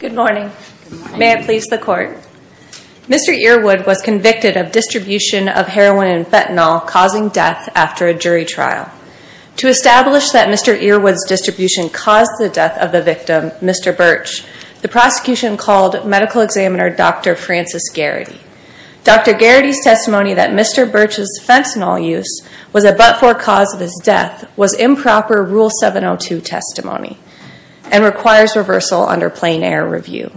Mr. Earwood was convicted of distribution of heroin and fentanyl causing death after a jury trial. To establish that Mr. Earwood's distribution caused the death of the victim, Mr. Birch, the prosecution called medical examiner Dr. Francis Garrity. Dr. Garrity's testimony that Mr. Birch's fentanyl use was a but-for cause of his death was improper Rule 702 testimony and requires reversal under plain-air review.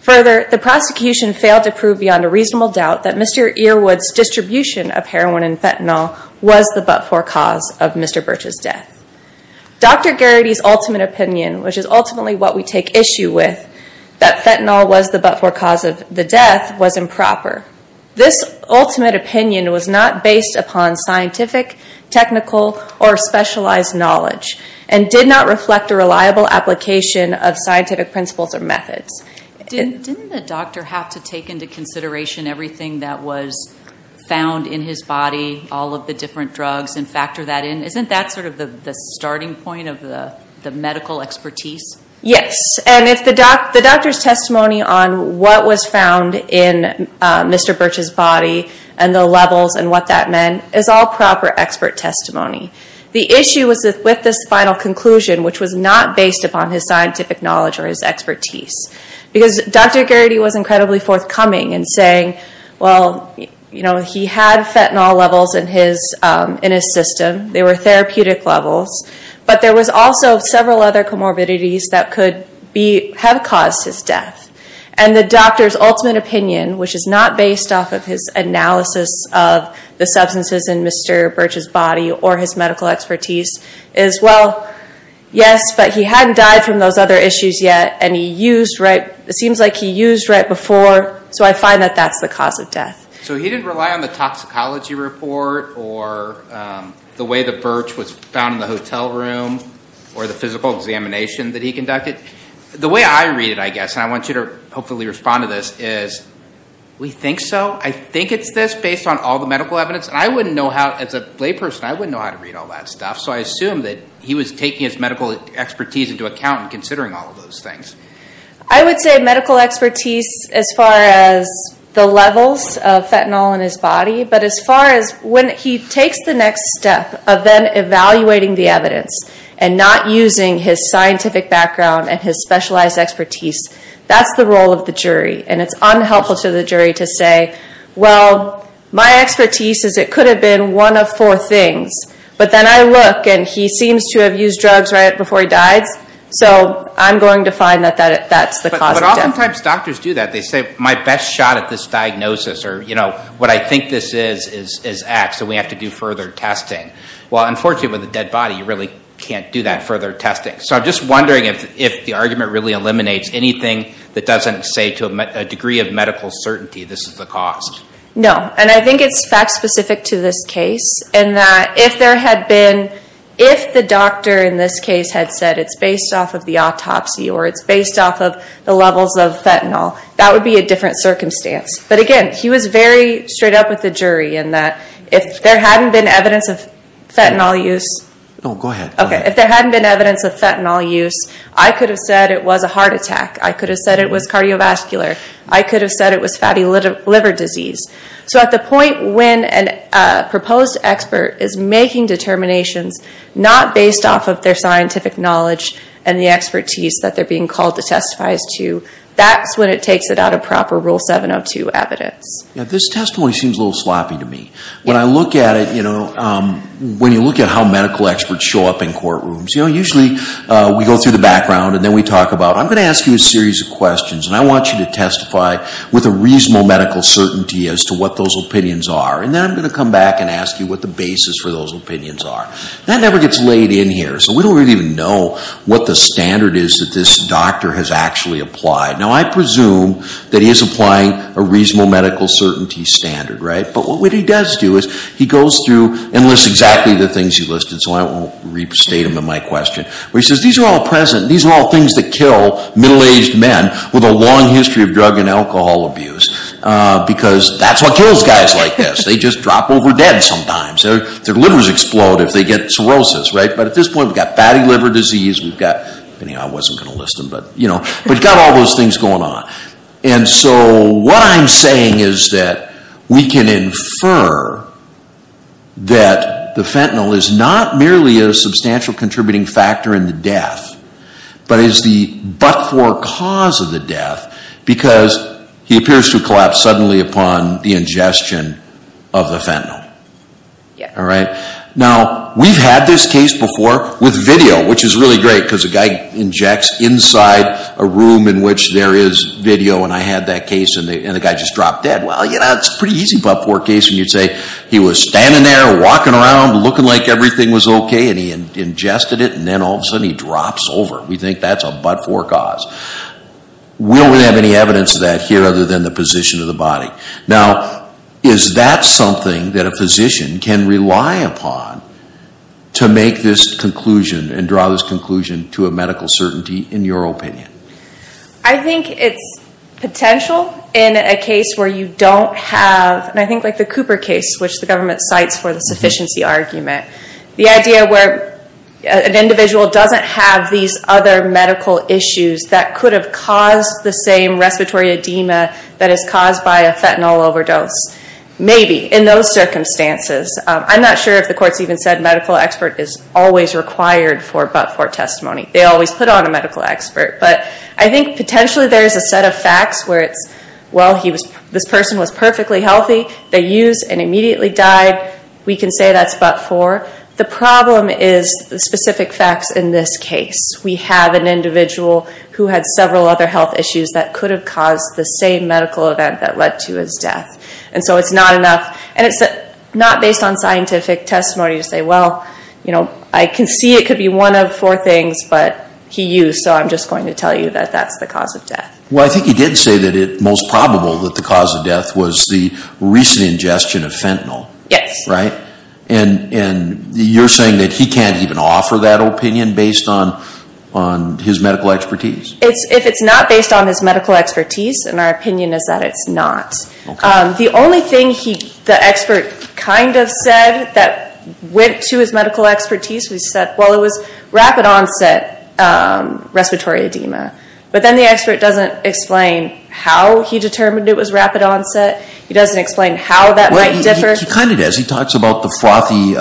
Further, the prosecution failed to prove beyond a reasonable doubt that Mr. Earwood's distribution of heroin and fentanyl was the but-for cause of Mr. Birch's death. Dr. Garrity's ultimate opinion, which is ultimately what we take issue with, that fentanyl was the but-for cause of the death, was improper. This ultimate opinion was not based upon scientific, technical, or specialized knowledge and did not reflect a reliable application of scientific principles or methods. Didn't the doctor have to take into consideration everything that was found in his body, all of the different drugs, and factor that in? Isn't that sort of the starting point of the medical expertise? Yes, and the doctor's testimony on what was found in Mr. Birch's body and the levels and what that meant is all proper expert testimony. The issue was with this final conclusion, which was not based upon his scientific knowledge or his expertise, because Dr. Garrity was incredibly forthcoming in saying, well, he had fentanyl levels in his system, they were therapeutic levels, but there was also several other comorbidities that could have caused his death. And the doctor's ultimate opinion, which is not based off of his analysis of the substances in Mr. Birch's body or his medical expertise, is, well, yes, but he hadn't died from those other issues yet, and it seems like he used right before, so I find that that's the cause of death. So he didn't rely on the toxicology report or the way that Birch was found in the hotel room or the physical examination that he conducted. The way I read it, I guess, and I want you to hopefully respond to this, is we think so? I think it's this, based on all the medical evidence, and I wouldn't know how, as a layperson, I wouldn't know how to read all that stuff, so I assume that he was taking his medical expertise into account in considering all of those things. I would say medical expertise as far as the levels of fentanyl in his body, but as far as the level of evidence, and not using his scientific background and his specialized expertise, that's the role of the jury, and it's unhelpful to the jury to say, well, my expertise is it could have been one of four things, but then I look, and he seems to have used drugs right before he died, so I'm going to find that that's the cause of death. But oftentimes doctors do that. They say, my best shot at this diagnosis, or what I think this is, is X, and we have to do further testing. Well, unfortunately, with a dead body, you really can't do that further testing, so I'm just wondering if the argument really eliminates anything that doesn't say to a degree of medical certainty this is the cause. No, and I think it's fact-specific to this case, in that if there had been, if the doctor in this case had said it's based off of the autopsy, or it's based off of the levels of fentanyl, that would be a different circumstance, but again, he was very straight up with the jury, in that if there hadn't been evidence of fentanyl use, I could have said it was a heart attack. I could have said it was cardiovascular. I could have said it was fatty liver disease. So at the point when a proposed expert is making determinations not based off of their scientific knowledge and the expertise that they're being called to testify as to, that's when it takes it out of proper Rule 702 evidence. This testimony seems a little sloppy to me. When I look at it, you know, when you look at how medical experts show up in courtrooms, you know, usually we go through the background and then we talk about, I'm going to ask you a series of questions and I want you to testify with a reasonable medical certainty as to what those opinions are, and then I'm going to come back and ask you what the basis for those opinions are. That never gets laid in here, so we don't really even know what the standard is that this doctor has actually applied. Now I presume that he is applying a reasonable medical certainty standard, right? But what he does do is he goes through and lists exactly the things he listed, so I won't restate them in my question, where he says these are all things that kill middle-aged men with a long history of drug and alcohol abuse, because that's what kills guys like this. They just drop over dead sometimes. Their livers explode if they get cirrhosis, right? But at this point we've got fatty liver disease, we've got, I wasn't going to list them, but we've got all those things going on. And so what I'm saying is that we can infer that the fentanyl is not merely a substantial contributing factor in the death, but is the but-for cause of the death, because he appears to collapse suddenly upon the ingestion of the fentanyl. Now we've had this case before with video, which is really great, because a guy injects fentanyl inside a room in which there is video, and I had that case and the guy just dropped dead. Well, you know, it's a pretty easy but-for case when you say he was standing there, walking around, looking like everything was okay, and he ingested it, and then all of a sudden he drops over. We think that's a but-for cause. We don't really have any evidence of that here other than the position of the body. Now, is that something that a physician can rely upon to make this conclusion and draw this conclusion to a medical certainty, in your opinion? I think it's potential in a case where you don't have, and I think like the Cooper case, which the government cites for the sufficiency argument, the idea where an individual doesn't have these other medical issues that could have caused the same respiratory edema that is caused by a fentanyl overdose, maybe, in those circumstances. I'm not sure if the courts even said medical expert is always required for a but-for testimony. They always put on a medical expert, but I think potentially there is a set of facts where it's, well, this person was perfectly healthy, they used and immediately died. We can say that's but-for. The problem is the specific facts in this case. We have an individual who had several other health issues that could have caused the same medical event that led to his death. It's not enough, and it's not based on scientific testimony to say, well, I can see it could be one of four things, but he used, so I'm just going to tell you that that's the cause of death. Well, I think you did say that it's most probable that the cause of death was the recent ingestion of fentanyl. Yes. Right? And you're saying that he can't even offer that opinion based on his medical expertise? If it's not based on his medical expertise, and our opinion is that it's not. The only thing the expert kind of said that went to his medical expertise, we said, well, it was rapid onset respiratory edema. But then the expert doesn't explain how he determined it was rapid onset. He doesn't explain how that might differ. Well, he kind of does. He talks about the frothy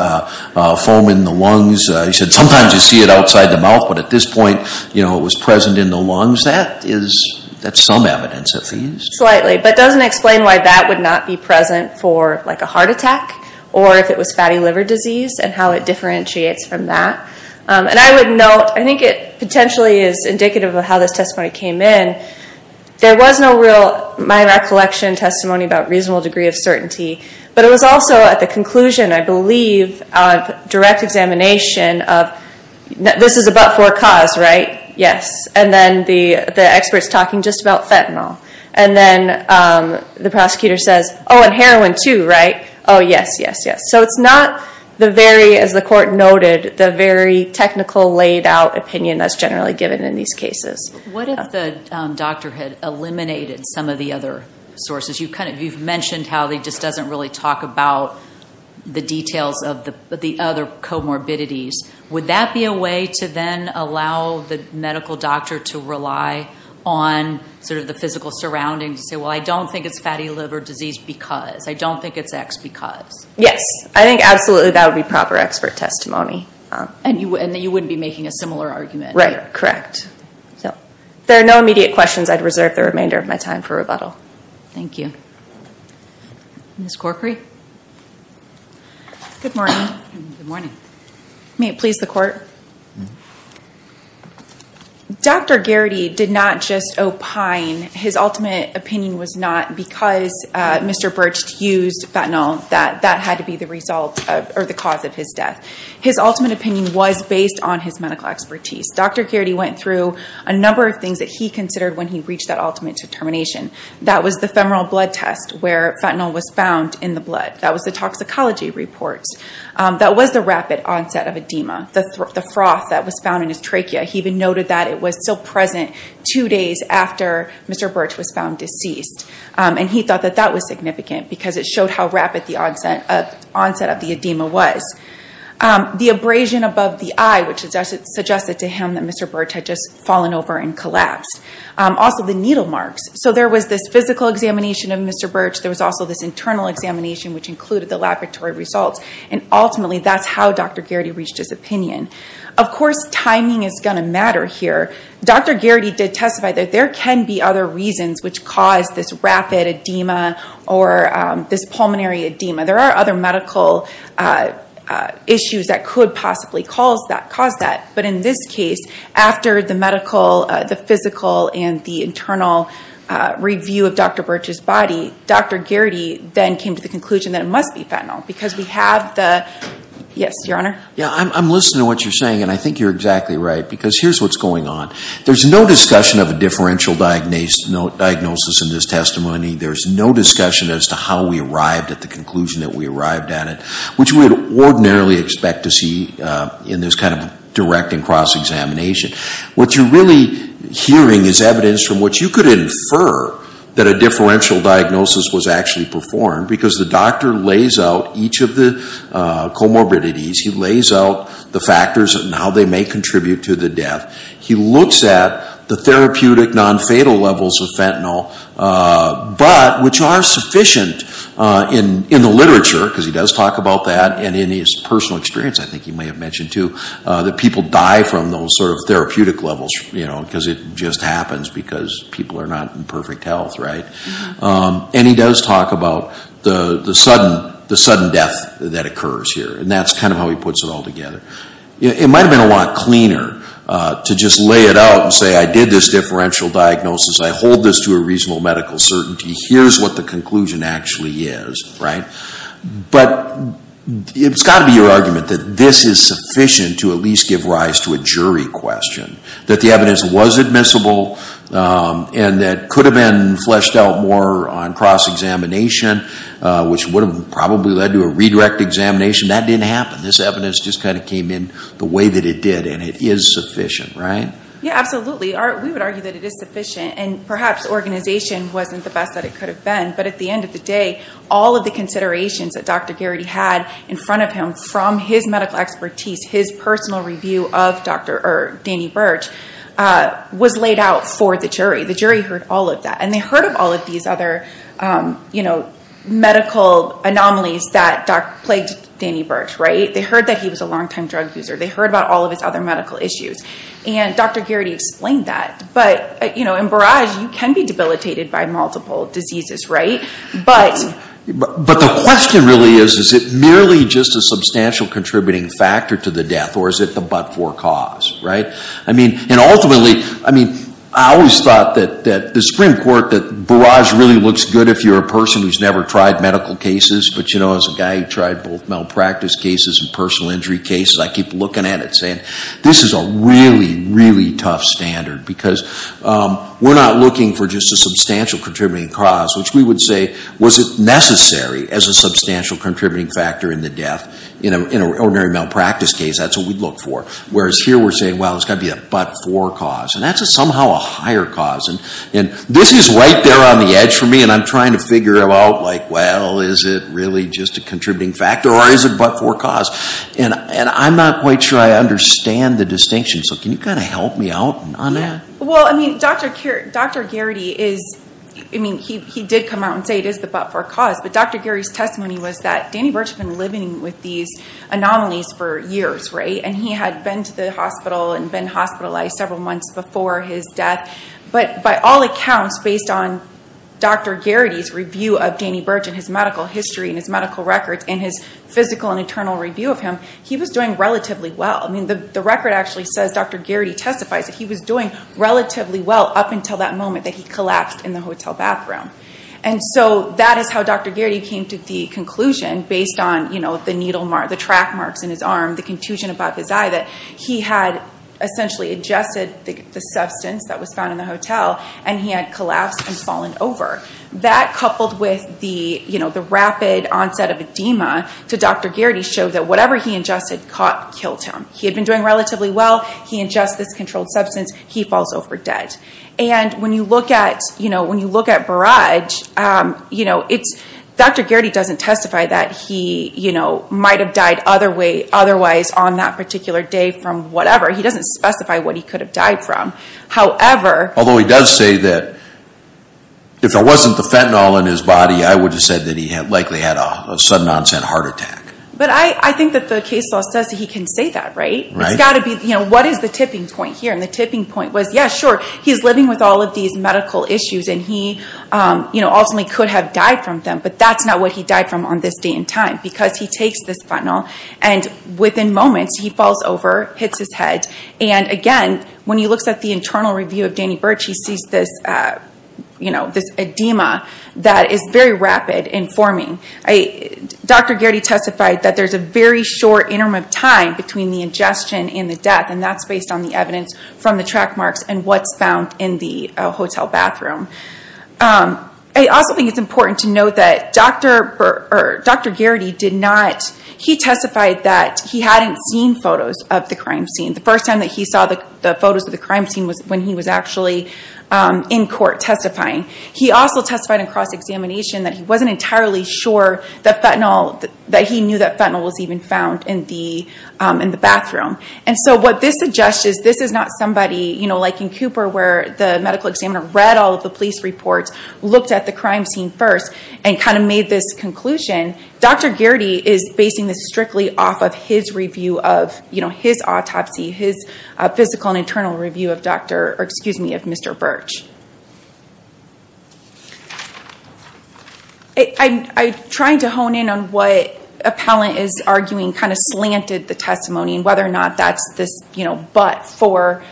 foam in the lungs. He said sometimes you see it outside the mouth, but at this point, it was present in the lungs. That's some evidence, I think. Slightly. But doesn't explain why that would not be present for a heart attack, or if it was fatty liver disease, and how it differentiates from that. And I would note, I think it potentially is indicative of how this testimony came in. There was no real, my recollection, testimony about reasonable degree of certainty. But it was also, at the conclusion, I believe, of direct examination of, this is about forecast, right? Yes. And then the expert's talking just about fentanyl. And then the prosecutor says, oh, and heroin too, right? Oh, yes, yes, yes. So it's not the very, as the court noted, the very technical, laid out opinion that's generally given in these cases. What if the doctor had eliminated some of the other sources? You've mentioned how he just doesn't really talk about the details of the other comorbidities. Would that be a way to then allow the medical doctor to rely on the physical surroundings to say, well, I don't think it's fatty liver disease because. I don't think it's X because. Yes. I think, absolutely, that would be proper expert testimony. And that you wouldn't be making a similar argument. Right. Correct. If there are no immediate questions, I'd reserve the remainder of my time for rebuttal. Thank you. Ms. Corcory. Good morning. Good morning. May it please the court. Dr. Garrity did not just opine. His ultimate opinion was not because Mr. Birch used fentanyl that that had to be the result or the cause of his death. His ultimate opinion was based on his medical expertise. Dr. Garrity went through a number of things that he considered when he reached that ultimate determination. That was the femoral blood test where fentanyl was found in the blood. That was the toxicology reports. That was the rapid onset of edema, the froth that was found in his trachea. He even noted that it was still present two days after Mr. Birch was found deceased. And he thought that that was significant because it showed how rapid the onset of the edema was. The abrasion above the eye, which suggested to him that Mr. Birch had just fallen over and collapsed. Also, the needle marks. So there was this physical examination of Mr. Birch. There was also this internal examination which included the laboratory results. And ultimately, that's how Dr. Garrity reached his opinion. Of course, timing is going to matter here. Dr. Garrity did testify that there can be other reasons which caused this rapid edema or this pulmonary edema. There are other medical issues that could possibly cause that. But in this case, after the physical and the internal review of Dr. Birch's body, Dr. Garrity then came to the conclusion that it must be fentanyl because we have the... Yes, your honor? I'm listening to what you're saying and I think you're exactly right because here's what's going on. There's no discussion of a differential diagnosis in this testimony. There's no discussion as to how we arrived at the conclusion that we arrived at it, which we would ordinarily expect to see in this kind of direct and cross-examination. What you're really hearing is evidence from which you could infer that a differential diagnosis was actually performed because the doctor lays out each of the comorbidities. He lays out the factors and how they may contribute to the death. He looks at the therapeutic non-fatal levels of fentanyl, but which are sufficient in the personal experience, I think you may have mentioned too, that people die from those sort of therapeutic levels because it just happens because people are not in perfect health. And he does talk about the sudden death that occurs here and that's kind of how he puts it all together. It might have been a lot cleaner to just lay it out and say I did this differential diagnosis, I hold this to a reasonable medical certainty, here's what the conclusion actually is. But it's got to be your argument that this is sufficient to at least give rise to a jury question. That the evidence was admissible and that it could have been fleshed out more on cross-examination, which would have probably led to a redirect examination. That didn't happen. This evidence just kind of came in the way that it did and it is sufficient, right? Yeah, absolutely. We would argue that it is sufficient and perhaps organization wasn't the best that it could have been. But at the end of the day, all of the considerations that Dr. Garrity had in front of him from his medical expertise, his personal review of Danny Burch, was laid out for the jury. The jury heard all of that. And they heard of all of these other medical anomalies that plagued Danny Burch, right? They heard that he was a long-time drug abuser. They heard about all of his other medical issues. And Dr. Garrity explained that. But in Barrage, you can be debilitated by multiple diseases, right? But the question really is, is it merely just a substantial contributing factor to the death or is it the but-for cause, right? And ultimately, I always thought that the Supreme Court, that Barrage really looks good if you're a person who's never tried medical cases, but as a guy who tried both malpractice cases and personal injury cases, I keep looking at it saying, this is a really, really tough standard. Because we're not looking for just a substantial contributing cause, which we would say, was it necessary as a substantial contributing factor in the death in an ordinary malpractice case? That's what we'd look for. Whereas here, we're saying, well, it's got to be a but-for cause. And that's somehow a higher cause. And this is right there on the edge for me, and I'm trying to figure out, well, is it really just a contributing factor or is it but-for cause? And I'm not quite sure I understand the distinction. So can you kind of help me out on that? Well, I mean, Dr. Garrity is, I mean, he did come out and say it is the but-for cause. But Dr. Garrity's testimony was that Danny Burch had been living with these anomalies for years, right? And he had been to the hospital and been hospitalized several months before his death. But by all accounts, based on Dr. Garrity's review of Danny Burch and his medical history and his medical records and his physical and internal review of him, he was doing relatively well. I mean, the record actually says Dr. Garrity testifies that he was doing relatively well up until that moment that he collapsed in the hotel bathroom. And so that is how Dr. Garrity came to the conclusion, based on, you know, the needle mark, the track marks in his arm, the contusion above his eye, that he had essentially ingested the substance that was found in the hotel and he had collapsed and fallen over. That coupled with the, you know, the rapid onset of edema to Dr. Garrity showed that whatever he ingested killed him. He had been doing relatively well. He ingests this controlled substance. He falls over dead. And when you look at, you know, when you look at Burrage, you know, Dr. Garrity doesn't testify that he, you know, might have died otherwise on that particular day from whatever. He doesn't specify what he could have died from. However... Although he does say that if there wasn't the fentanyl in his body, I would have said that he likely had a sudden onset heart attack. But I think that the case law says that he can say that, right? Right. It's got to be, you know, what is the tipping point here? And the tipping point was, yeah, sure, he's living with all of these medical issues and he, you know, ultimately could have died from them. But that's not what he died from on this day and time because he takes this fentanyl and within moments he falls over, hits his head, and again, when he looks at the internal review of Danny Burrage, he sees this, you know, this edema that is very rapid in forming. Dr. Garrity testified that there's a very short interim of time between the ingestion and the death and that's based on the evidence from the track marks and what's found in the hotel bathroom. I also think it's important to note that Dr. Garrity did not... He testified that he hadn't seen photos of the crime scene. The first time that he saw the photos of the crime scene was when he was actually in court testifying. He also testified in cross-examination that he wasn't entirely sure that fentanyl, that he knew that fentanyl was even found in the bathroom. And so what this suggests is this is not somebody, you know, like in Cooper where the medical examiner read all of the police reports, looked at the crime scene first, and kind of made this conclusion. Dr. Garrity is basing this strictly off of his review of, you know, his autopsy, his physical and internal review of Dr., or excuse me, of Mr. Birch. I'm trying to hone in on what appellant is arguing kind of slanted the testimony and whether or not that's this, you know, but for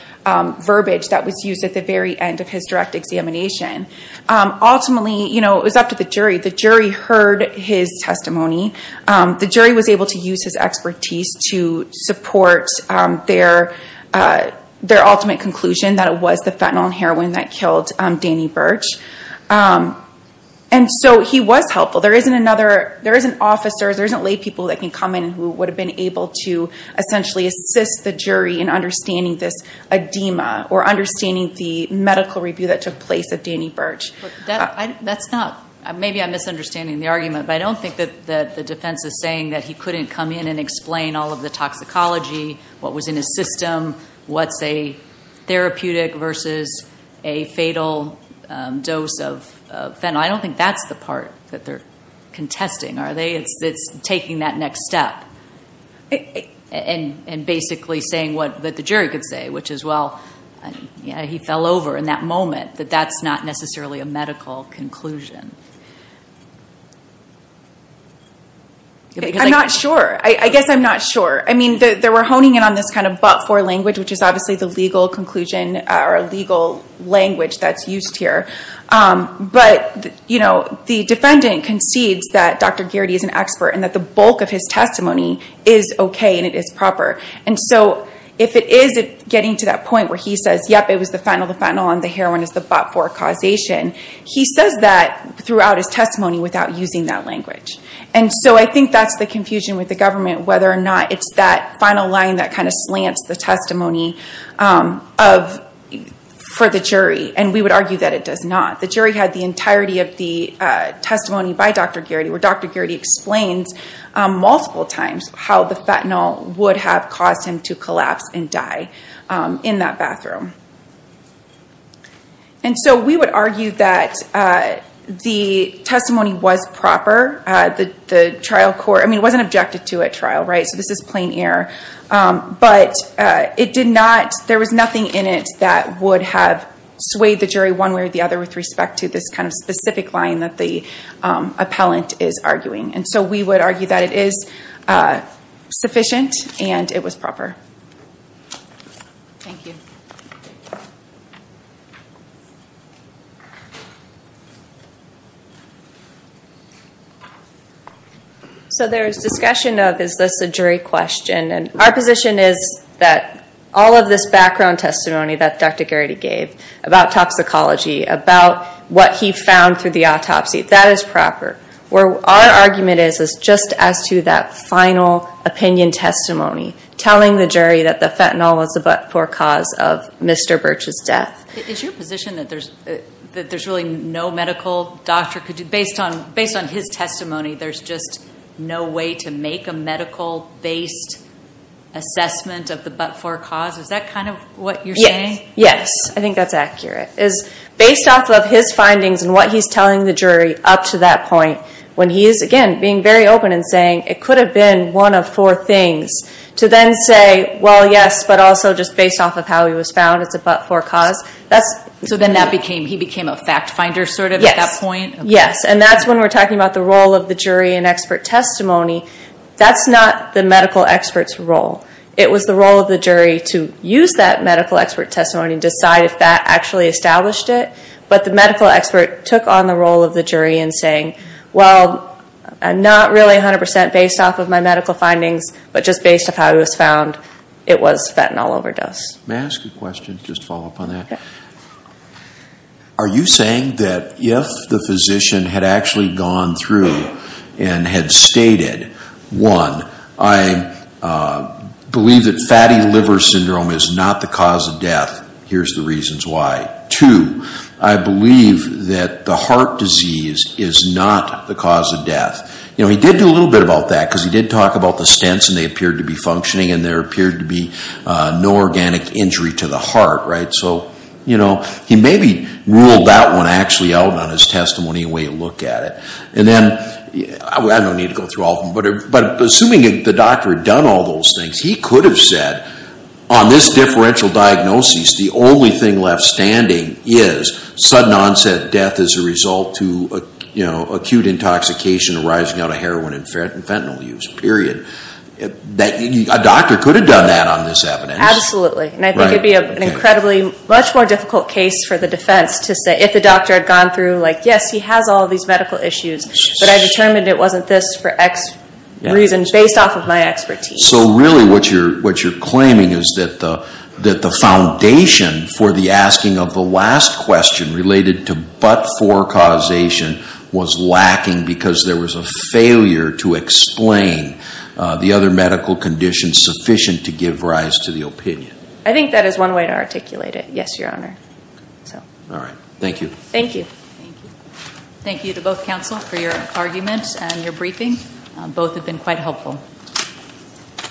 verbiage that was used at the very end of his direct examination. Ultimately, you know, it was up to the jury. The jury heard his testimony. The jury was able to use his expertise to support their ultimate conclusion that it was the fentanyl and heroin that killed Danny Birch. And so he was helpful. There isn't another, there isn't officers, there isn't lay people that can come in who would have been able to essentially assist the jury in understanding this edema or understanding the medical review that took place of Danny Birch. But that's not, maybe I'm misunderstanding the argument, but I don't think that the defense is saying that he couldn't come in and explain all of the toxicology, what was in his system, what's a therapeutic versus a fatal dose of fentanyl. I don't think that's the part that they're contesting, are they? It's taking that next step and basically saying what the jury could say, which is, well, yeah, he fell over in that moment, that that's not necessarily a medical conclusion. I'm not sure. I guess I'm not sure. I mean, they were honing in on this kind of but-for language, which is obviously the legal conclusion or legal language that's used here. But the defendant concedes that Dr. Gearty is an expert and that the bulk of his testimony is okay and it is proper. And so if it is getting to that point where he says, yep, it was the fentanyl, the fentanyl and the heroin is the but-for causation, he says that throughout his testimony without using that language. And so I think that's the confusion with the government, whether or not it's that final line that kind of slants the testimony for the jury. And we would argue that it does not. The jury had the entirety of the testimony by Dr. Gearty, where Dr. Gearty explains multiple times how the fentanyl would have caused him to collapse and die in that bathroom. And so we would argue that the testimony was proper. The trial court, I mean, it wasn't objected to at trial, right? So this is plain air. But it did not, there was nothing in it that would have swayed the jury one way or the other with respect to this kind of specific line that the appellant is arguing. And so we would argue that it is sufficient and it was proper. Thank you. So there is discussion of, is this a jury question? And our position is that all of this background testimony that Dr. Gearty gave about toxicology, about what he found through the autopsy, that is proper. Where our argument is, is just as to that final opinion testimony, telling the jury that the fentanyl was the but-for cause of Mr. Birch's death. Is your position that there's really no medical doctor could do, based on his testimony, there's just no way to make a medical based assessment of the but-for cause, is that kind of what you're saying? Yes, I think that's accurate. Is based off of his findings and what he's telling the jury up to that point, when he is, again, being very open in saying it could have been one of four things. To then say, well, yes, but also just based off of how he was found, it's a but-for cause. So then he became a fact finder sort of at that point? Yes, and that's when we're talking about the role of the jury in expert testimony. That's not the medical expert's role. It was the role of the jury to use that medical expert testimony and see if that actually established it. But the medical expert took on the role of the jury in saying, well, not really 100% based off of my medical findings, but just based off how he was found, it was fentanyl overdose. May I ask a question, just to follow up on that? Okay. Are you saying that if the physician had actually gone through and had stated, one, I believe that fatty liver syndrome is not the cause of death. Here's the reasons why. Two, I believe that the heart disease is not the cause of death. He did do a little bit about that, because he did talk about the stents, and they appeared to be functioning, and there appeared to be no organic injury to the heart, right? So he maybe ruled that one actually out on his testimony, the way you look at it. And then, I don't need to go through all of them, but assuming the doctor had done all those things, he could have said, on this differential diagnosis, the only thing left standing is sudden onset death as a result to acute intoxication arising out of heroin and fentanyl use, period. A doctor could have done that on this evidence. Absolutely, and I think it'd be an incredibly much more difficult case for the defense to say, if the doctor had gone through, yes, he has all these medical issues, but I determined it wasn't this for x reason, based off of my expertise. So really, what you're claiming is that the foundation for the asking of the last question, related to but-for causation, was lacking because there was a failure to explain the other medical conditions sufficient to give rise to the opinion. I think that is one way to articulate it. Yes, your honor, so. All right, thank you. Thank you. Thank you to both counsel for your arguments and your briefing. Both have been quite helpful. Thank you. Thank you.